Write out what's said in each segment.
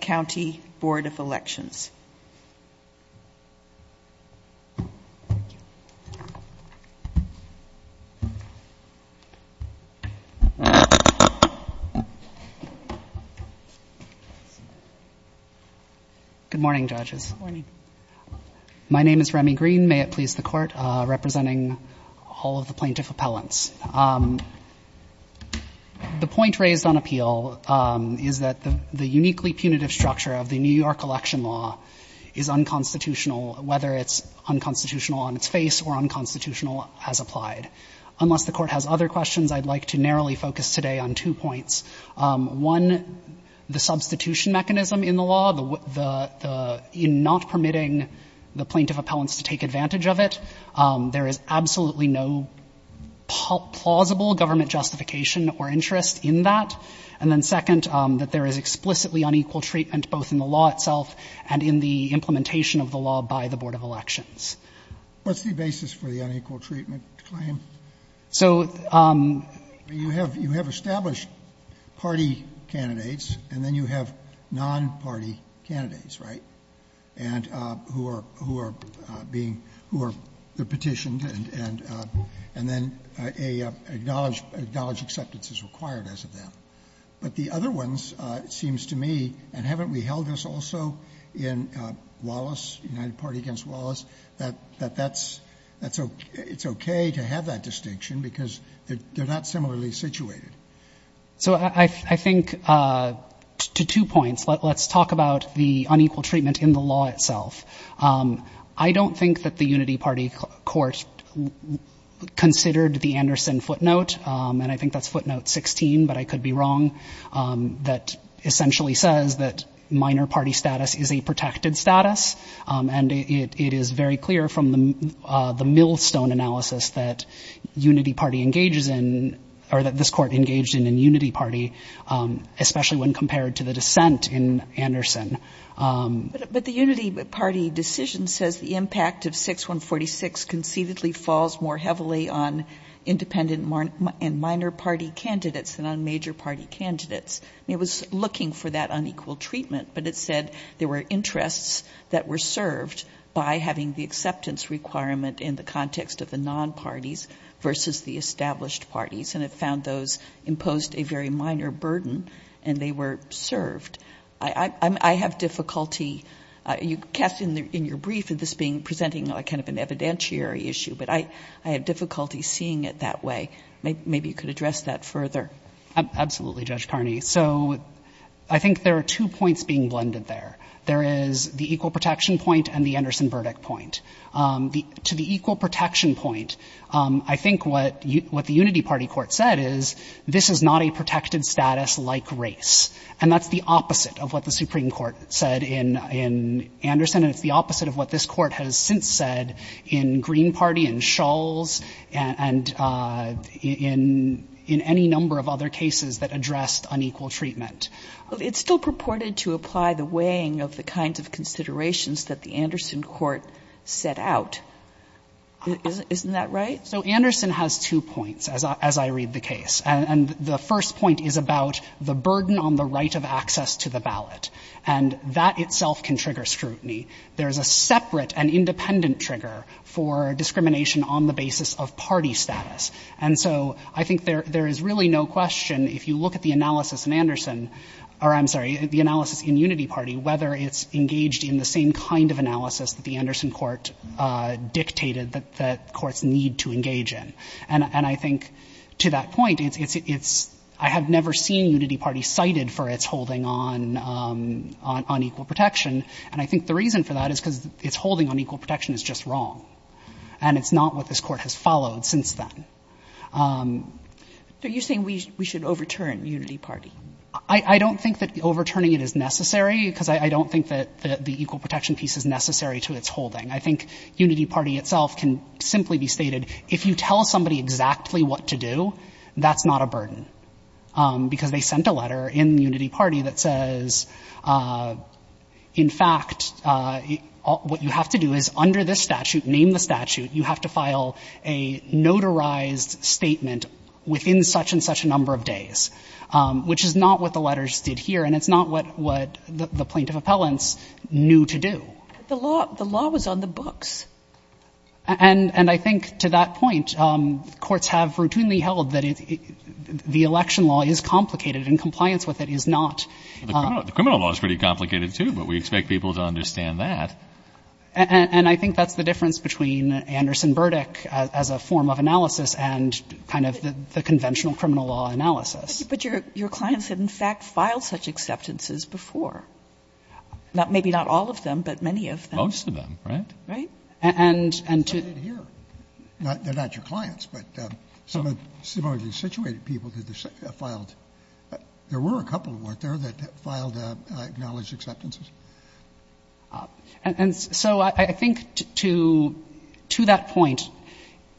County Board of Elections. Good morning, judges. The point raised on appeal is that the uniquely punitive structure of the New York election law is unconstitutional, whether it's unconstitutional on its face or unconstitutional as applied. Unless the Court has other questions, I'd like to narrowly focus today on two points. One, the substitution mechanism in the law, in not permitting the plaintiff and the appellants to take advantage of it. There is absolutely no plausible government justification or interest in that. And then, second, that there is explicitly unequal treatment both in the law itself and in the implementation of the law by the Board of Elections. What's the basis for the unequal treatment claim? So... You have established party candidates, and then you have non-party candidates, right, and who are being, who are petitioned, and then an acknowledged acceptance is required as of now. But the other ones, it seems to me, and haven't we held this also in Wallis, United Party against Wallis, that that's, it's okay to have that distinction because they're not similarly situated. So I think, to two points, let's talk about the unequal treatment in the law itself. I don't think that the Unity Party Court considered the Anderson footnote, and I think that's footnote 16, but I could be wrong, that essentially says that minor party status is a protected status. And it is very clear from the millstone analysis that Unity Party engages It's a protected status. It's a protected status. It's a in Unity Party, especially when compared to the dissent in Anderson. But the Unity Party decision says the impact of 6146 conceitedly falls more heavily on independent and minor party candidates than on major party candidates. I mean, it was looking for that unequal treatment, but it said there were interests that were served by having the acceptance requirement in the context of the non-parties versus the established parties. And it found those in Unity Party, and it found that those interests imposed a very minor burden, and they were served. I have difficulty. You cast in your brief this being presenting a kind of an evidentiary issue, but I have difficulty seeing it that way. Maybe you could address that further. Absolutely, Judge Kearney. So I think there are two points being blended there. There is the equal protection point and the Anderson verdict point. To the equal protection point, I think what the Unity Party Court said is, this court is going to say that race is not a protected status like race. And that's the opposite of what the Supreme Court said in Anderson, and it's the opposite of what this Court has since said in Green Party, in Shulls, and in any number of other cases that addressed unequal treatment. It's still purported to apply the weighing of the kinds of considerations that the Anderson court set out. Isn't that right? So Anderson has two points, as I read the case. And the first point is about the burden on the right of access to the ballot. And that itself can trigger scrutiny. There is a separate and independent trigger for discrimination on the basis of party status. And so I think there is really no question, if you look at the analysis in Anderson, or I'm sorry, the analysis in Unity Party, whether it's engaged in the same kind of analysis that the Anderson court dictated that courts need to engage in. And I think to that point, it's — I have never seen Unity Party cited for its holding on — on equal protection. And I think the reason for that is because its holding on equal protection is just wrong. And it's not what this Court has followed since then. Kagan. So you're saying we should overturn Unity Party? I don't think that overturning it is necessary, because I don't think that the equal protection piece is necessary to its holding. I think Unity Party itself can simply be stated, if you tell somebody exactly what to do, that's not a burden, because they sent a letter in Unity Party that says, in fact, what you have to do is, under this statute, name the statute, you have to file a notarized statement within such and such a number of days, which is not what the letters did here, and it's not what the plaintiff appellants knew to do. But the law — the law was on the books. And I think to that point, courts have routinely held that the election law is complicated and compliance with it is not. The criminal law is pretty complicated, too, but we expect people to understand that. And I think that's the difference between Anderson Burdick as a form of analysis and kind of the conventional criminal law analysis. But your clients have, in fact, filed such acceptances before. Maybe not all of them, but many of them. Most of them, right? Right. And to — They're not your clients, but some of the situated people that filed — there were a couple, weren't there, that filed acknowledged acceptances? And so I think to that point,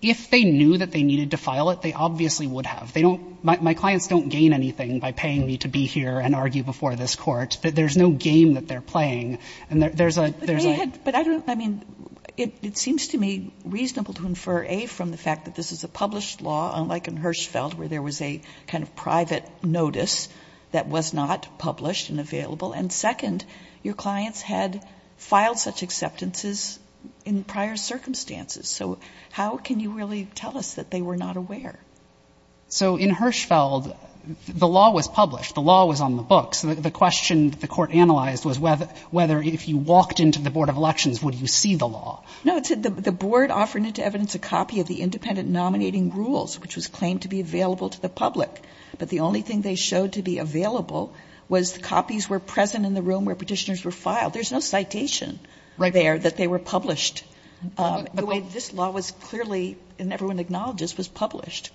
if they knew that they needed to file it, they obviously would have. They don't — my clients don't gain anything by paying me to be here and argue before this Court. There's no game that they're playing. And there's a — But they had — but I don't — I mean, it seems to me reasonable to infer, A, from the fact that this is a published law, unlike in Hirschfeld, where there was a kind of private notice that was not published and available. And second, your clients had filed such acceptances in prior circumstances. So how can you really tell us that they were not aware? So in Hirschfeld, the law was published. The law was on the books. The question that the Court analyzed was whether, if you walked into the Board of Elections, would you see the law? No. The Board offered into evidence a copy of the independent nominating rules, which was claimed to be available to the public. But the only thing they showed to be available was copies were present in the room where petitioners were filed. There's no citation there that they were published. The way this law was clearly — and everyone acknowledges — was published.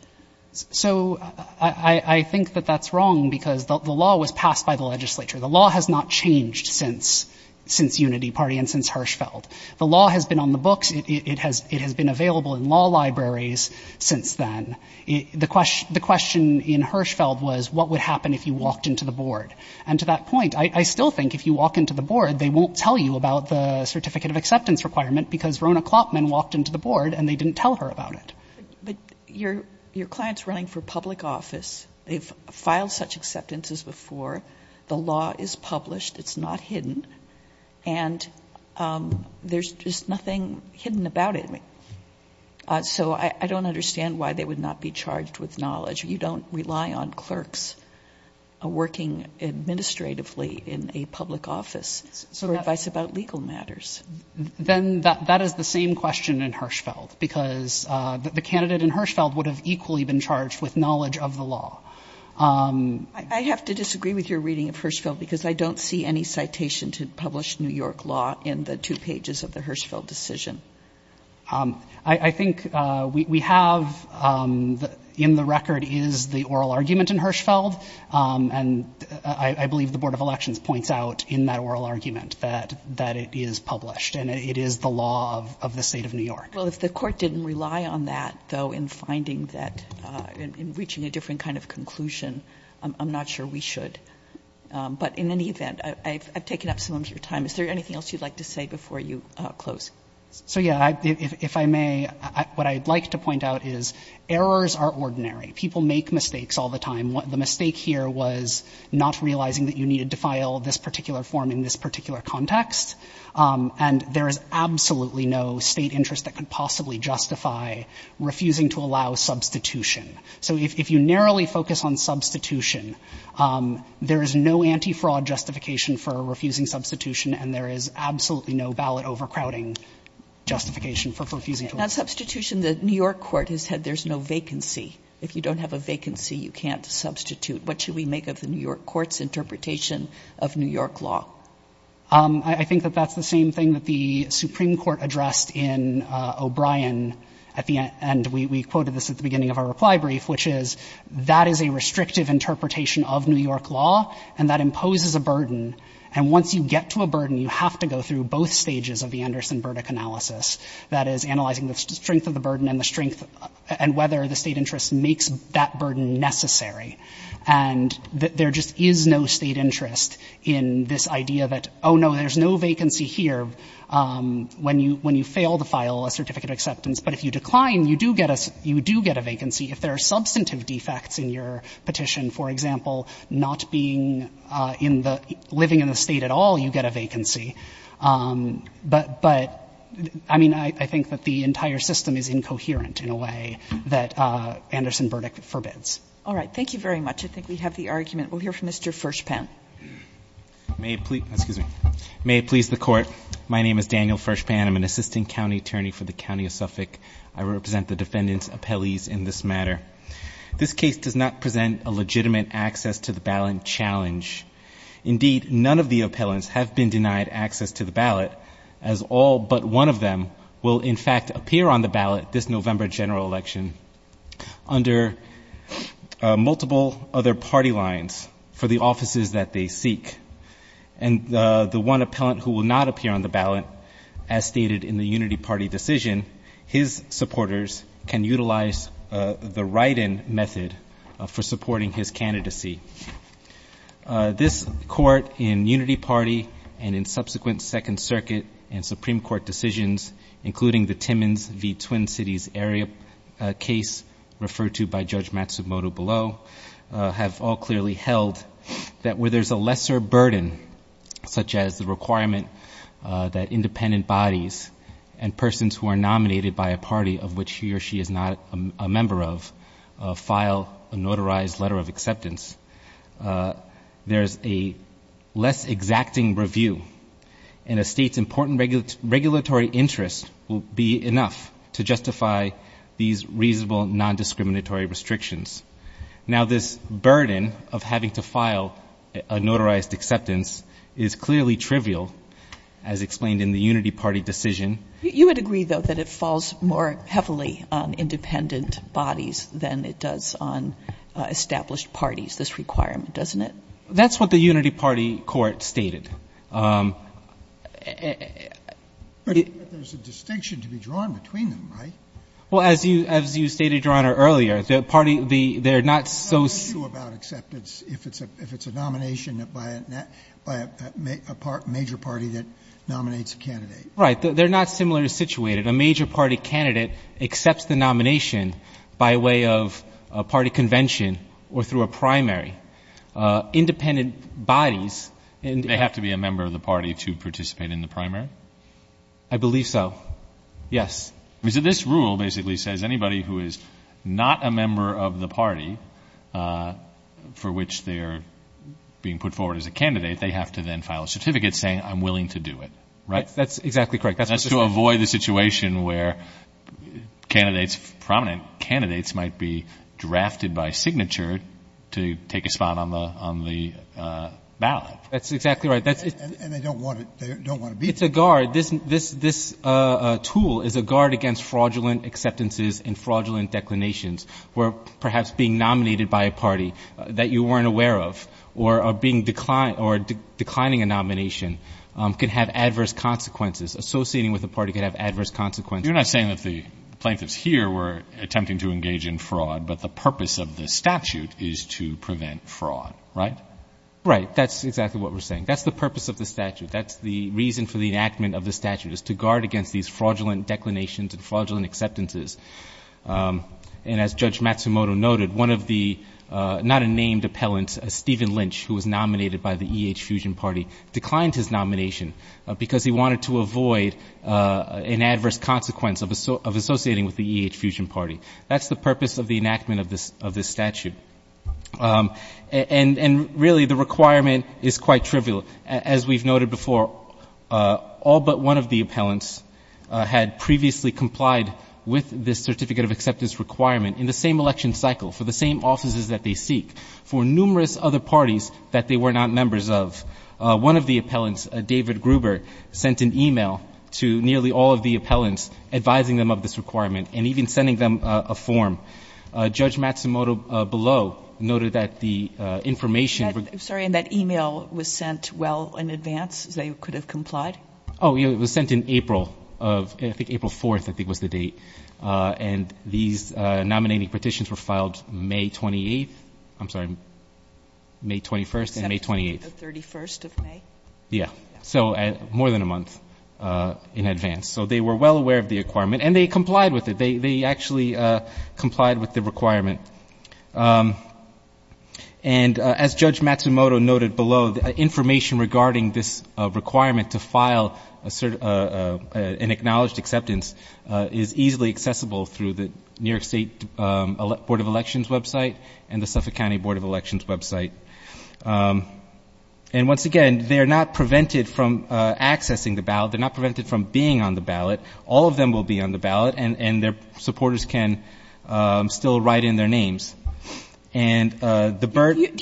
So I think that that's wrong because the law was passed by the legislature. The law has not changed since Unity Party and since Hirschfeld. The law has been on the books. It has been available in law libraries since then. The question in Hirschfeld was what would happen if you walked into the board? And to that point, I still think if you walk into the board, they won't tell you about the certificate of acceptance requirement because Rona Klopman walked into the board and they didn't tell her about it. But your client's running for public office. They've filed such acceptances before. The law is published. It's not hidden. And there's just nothing hidden about it. So I don't understand why they would not be charged with knowledge. You don't rely on clerks working administratively in a public office for advice about legal matters. Then that is the same question in Hirschfeld because the candidate in Hirschfeld would have equally been charged with knowledge of the law. I have to disagree with your reading of Hirschfeld because I don't see any citation to publish New York law in the two pages of the Hirschfeld decision. I think we have in the record is the oral argument in Hirschfeld. And I believe the Board of Elections points out in that oral argument that it is published and it is the law of the state of New York. Well, if the court didn't rely on that, though, in finding that, in reaching a different kind of conclusion, I'm not sure we should. But in any event, I've taken up some of your time. Is there anything else you'd like to say before you close? So, yeah, if I may, what I'd like to point out is errors are ordinary. People make mistakes all the time. The mistake here was not realizing that you needed to file this particular form in this particular context. And there is absolutely no state interest that could possibly justify refusing to allow substitution. So if you narrowly focus on substitution, there is no anti-fraud justification for refusing substitution and there is absolutely no ballot overcrowding justification for refusing to allow substitution. And on substitution, the New York court has said there's no vacancy. If you don't have a vacancy, you can't substitute. What should we make of the New York court's interpretation of New York law? I think that that's the same thing that the Supreme Court addressed in O'Brien at the end, and we quoted this at the beginning of our reply brief, which is that is a restrictive interpretation of New York law and that imposes a burden. And once you get to a burden, you have to go through both stages of the Anderson-Burdick analysis, that is, analyzing the strength of the burden and whether the state interest makes that burden necessary. And there just is no state interest in this idea that, oh, no, there's no vacancy here when you fail to file a certificate of acceptance. But if you decline, you do get a vacancy. If there are substantive defects in your petition, for example, not being in the ‑‑ living in the state at all, you get a vacancy. But, I mean, I think that the entire system is incoherent in a way that Anderson-Burdick forbids. All right. Thank you very much. I think we have the argument. We'll hear from Mr. Fershpan. May it please the court. My name is Daniel Fershpan. I'm an assistant county attorney for the county of Suffolk. I represent the defendant's appellees in this matter. This case does not present a legitimate access to the ballot challenge. Indeed, none of the appellants have been denied access to the ballot, as all but one of them will, in fact, appear on the ballot this November general election under multiple other party lines for the offices that they seek. And the one appellant who will not appear on the ballot, as stated in the unity party decision, his supporters can utilize the write‑in method for supporting his candidacy. This court in unity party and in subsequent Second Circuit and Supreme Court decisions, including the Timmins v. Twin Cities area case referred to by Judge Matsumoto below, have all clearly held that where there's a lesser burden, such as the requirement that independent bodies and persons who are nominated by a party of which he or she is not a member of file a notarized letter of acceptance, there's a less exacting review, and a state's important regulatory interest will be enough to justify these reasonable nondiscriminatory restrictions. Now, this burden of having to file a notarized acceptance is clearly trivial, as explained in the unity party decision. You would agree, though, that it falls more heavily on independent bodies than it does on established parties, this requirement, doesn't it? That's what the unity party court stated. But there's a distinction to be drawn between them, right? Well, as you stated, Your Honor, earlier, the party, they're not so. What about acceptance if it's a nomination by a major party that nominates a candidate? Right. They're not similarly situated. A major party candidate accepts the nomination by way of a party convention or through a primary. Independent bodies. They have to be a member of the party to participate in the primary? I believe so, yes. So this rule basically says anybody who is not a member of the party for which they are being put forward as a candidate, they have to then file a certificate saying I'm willing to do it, right? That's exactly correct. That's to avoid the situation where candidates, prominent candidates, might be drafted by signature to take a spot on the ballot. That's exactly right. And they don't want to be. It's a guard. This tool is a guard against fraudulent acceptances and fraudulent declinations where perhaps being nominated by a party that you weren't aware of or declining a nomination could have adverse consequences. Associating with a party could have adverse consequences. You're not saying that the plaintiffs here were attempting to engage in fraud, but the purpose of the statute is to prevent fraud, right? Right. That's exactly what we're saying. That's the purpose of the statute. That's the reason for the enactment of the statute is to guard against these fraudulent declinations and fraudulent acceptances. And as Judge Matsumoto noted, one of the not unnamed appellants, Stephen Lynch, who was nominated by the E.H. Fusion Party, declined his nomination because he wanted to avoid an adverse consequence of associating with the E.H. Fusion Party. That's the purpose of the enactment of this statute. And really the requirement is quite trivial. As we've noted before, all but one of the appellants had previously complied with this certificate of acceptance requirement in the same election cycle for the same offices that they seek, for numerous other parties that they were not members of. One of the appellants, David Gruber, sent an e-mail to nearly all of the appellants advising them of this requirement and even sending them a form. Judge Matsumoto below noted that the information was sent with the appellant as well in advance as they could have complied. Oh, yeah, it was sent in April of ‑‑ I think April 4th I think was the date. And these nominating petitions were filed May 28th. I'm sorry, May 21st and May 28th. September 31st of May. Yeah. So more than a month in advance. So they were well aware of the requirement. And they complied with it. They actually complied with the requirement. And as Judge Matsumoto noted below, the information regarding this requirement to file an acknowledged acceptance is easily accessible through the New York State Board of Elections website and the Suffolk County Board of Elections website. And once again, they are not prevented from accessing the ballot. They're not prevented from being on the ballot. All of them will be on the ballot. And their supporters can still write in their names. Do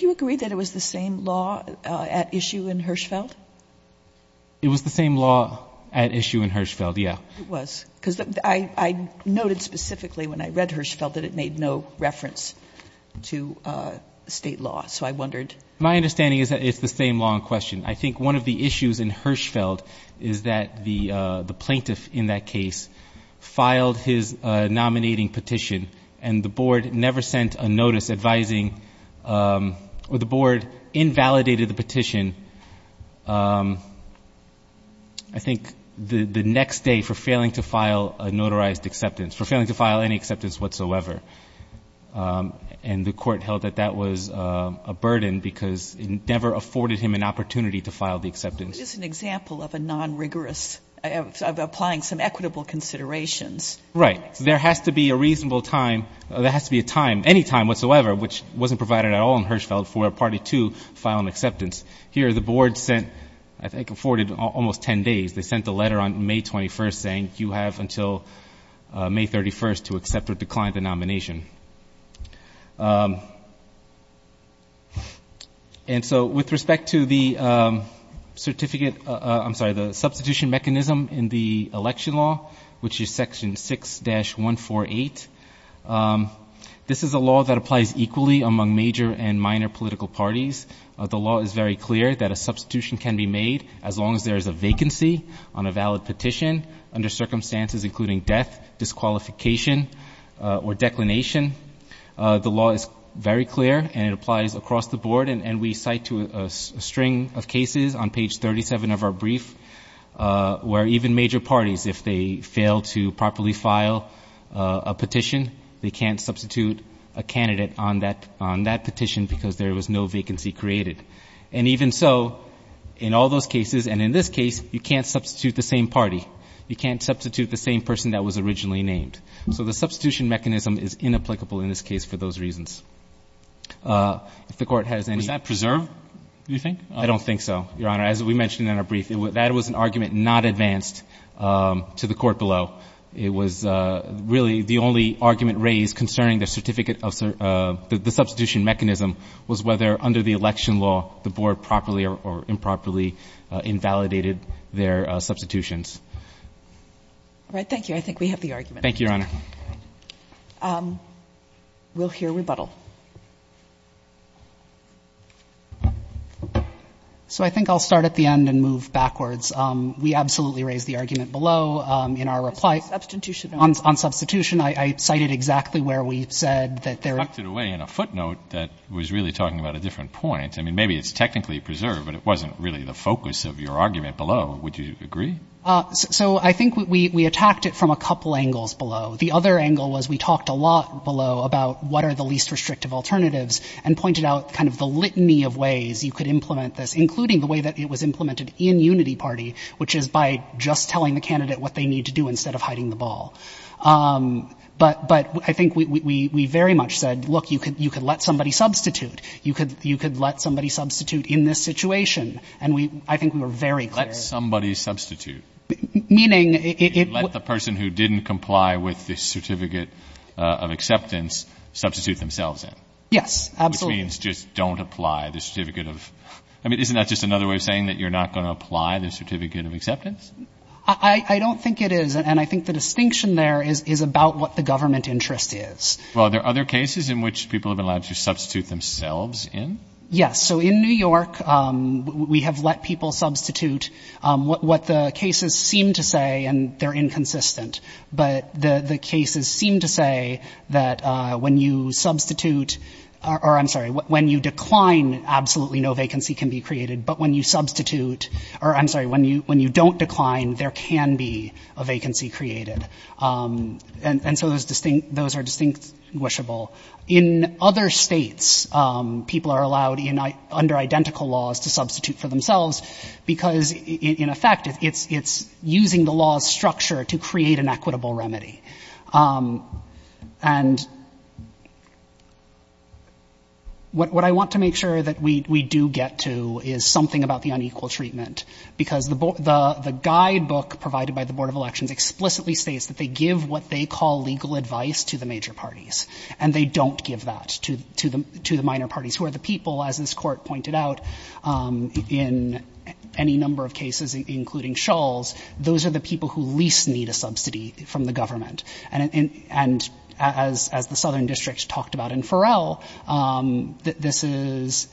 you agree that it was the same law at issue in Hirschfeld? It was the same law at issue in Hirschfeld, yeah. It was. Because I noted specifically when I read Hirschfeld that it made no reference to state law. So I wondered. My understanding is that it's the same law in question. I think one of the issues in Hirschfeld is that the plaintiff in that case filed his nominating petition, and the board never sent a notice advising or the board invalidated the petition, I think, the next day for failing to file a notarized acceptance, for failing to file any acceptance whatsoever. And the court held that that was a burden because it never afforded him an opportunity to file the acceptance. It's an example of a non-rigorous, of applying some equitable considerations. Right. There has to be a reasonable time. There has to be a time, any time whatsoever, which wasn't provided at all in Hirschfeld for a party to file an acceptance. Here the board sent, I think, afforded almost 10 days. They sent a letter on May 21st saying you have until May 31st to accept or decline the nomination. And so with respect to the certificate, I'm sorry, the substitution mechanism in the election law, which is Section 6-148, this is a law that applies equally among major and minor political parties. The law is very clear that a substitution can be made as long as there is a vacancy on a valid petition under circumstances including death, disqualification, or declination. The law is very clear, and it applies across the board, and we cite to a string of cases on page 37 of our brief where even major parties, if they fail to properly file a petition, they can't substitute a candidate on that petition because there was no vacancy created. And even so, in all those cases, and in this case, you can't substitute the same candidate on the same petition. So the substitution mechanism is inapplicable in this case for those reasons. If the Court has any other questions. Roberts. Was that preserved, do you think? I don't think so, Your Honor. As we mentioned in our brief, that was an argument not advanced to the Court below. It was really the only argument raised concerning the certificate of the substitution mechanism was whether under the election law the Board properly or improperly invalidated their substitutions. All right. Thank you. I think we have the argument. Thank you, Your Honor. We'll hear rebuttal. So I think I'll start at the end and move backwards. We absolutely raised the argument below in our reply. Substitution. On substitution. I cited exactly where we said that there are. You tucked it away in a footnote that was really talking about a different point. I mean, maybe it's technically preserved, but it wasn't really the focus of your argument below. Would you agree? So I think we attacked it from a couple angles below. The other angle was we talked a lot below about what are the least restrictive alternatives and pointed out kind of the litany of ways you could implement this, including the way that it was implemented in Unity Party, which is by just telling the candidate what they need to do instead of hiding the ball. But I think we very much said, look, you could let somebody substitute. You could let somebody substitute in this situation. And I think we were very clear. Let somebody substitute. Meaning? Let the person who didn't comply with the certificate of acceptance substitute themselves in. Yes, absolutely. Which means just don't apply the certificate of – I mean, isn't that just another way of saying that you're not going to apply the certificate of acceptance? I don't think it is. And I think the distinction there is about what the government interest is. Well, are there other cases in which people have been allowed to substitute themselves in? Yes. So in New York, we have let people substitute. What the cases seem to say, and they're inconsistent, but the cases seem to say that when you substitute – or, I'm sorry, when you decline, absolutely no vacancy can be created. But when you substitute – or, I'm sorry, when you don't decline, there can be a vacancy created. And so those are distinguishable. In other states, people are allowed under identical laws to substitute for themselves because, in effect, it's using the law's structure to create an equitable remedy. And what I want to make sure that we do get to is something about the unequal treatment. Because the guidebook provided by the Board of Elections explicitly states that they give what they call legal advice to the major parties. And they don't give that to the minor parties, who are the people, as this court pointed out, in any number of cases, including Shull's, those are the people in the government. And as the Southern District talked about in Farrell, this is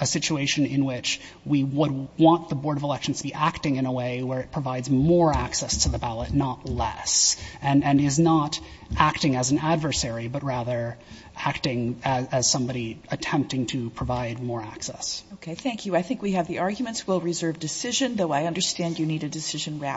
a situation in which we would want the Board of Elections to be acting in a way where it provides more access to the ballot, not less. And is not acting as an adversary, but rather acting as somebody attempting to provide more access. Okay, thank you. I think we have the arguments. We'll reserve decision, though I understand you need a decision wrap.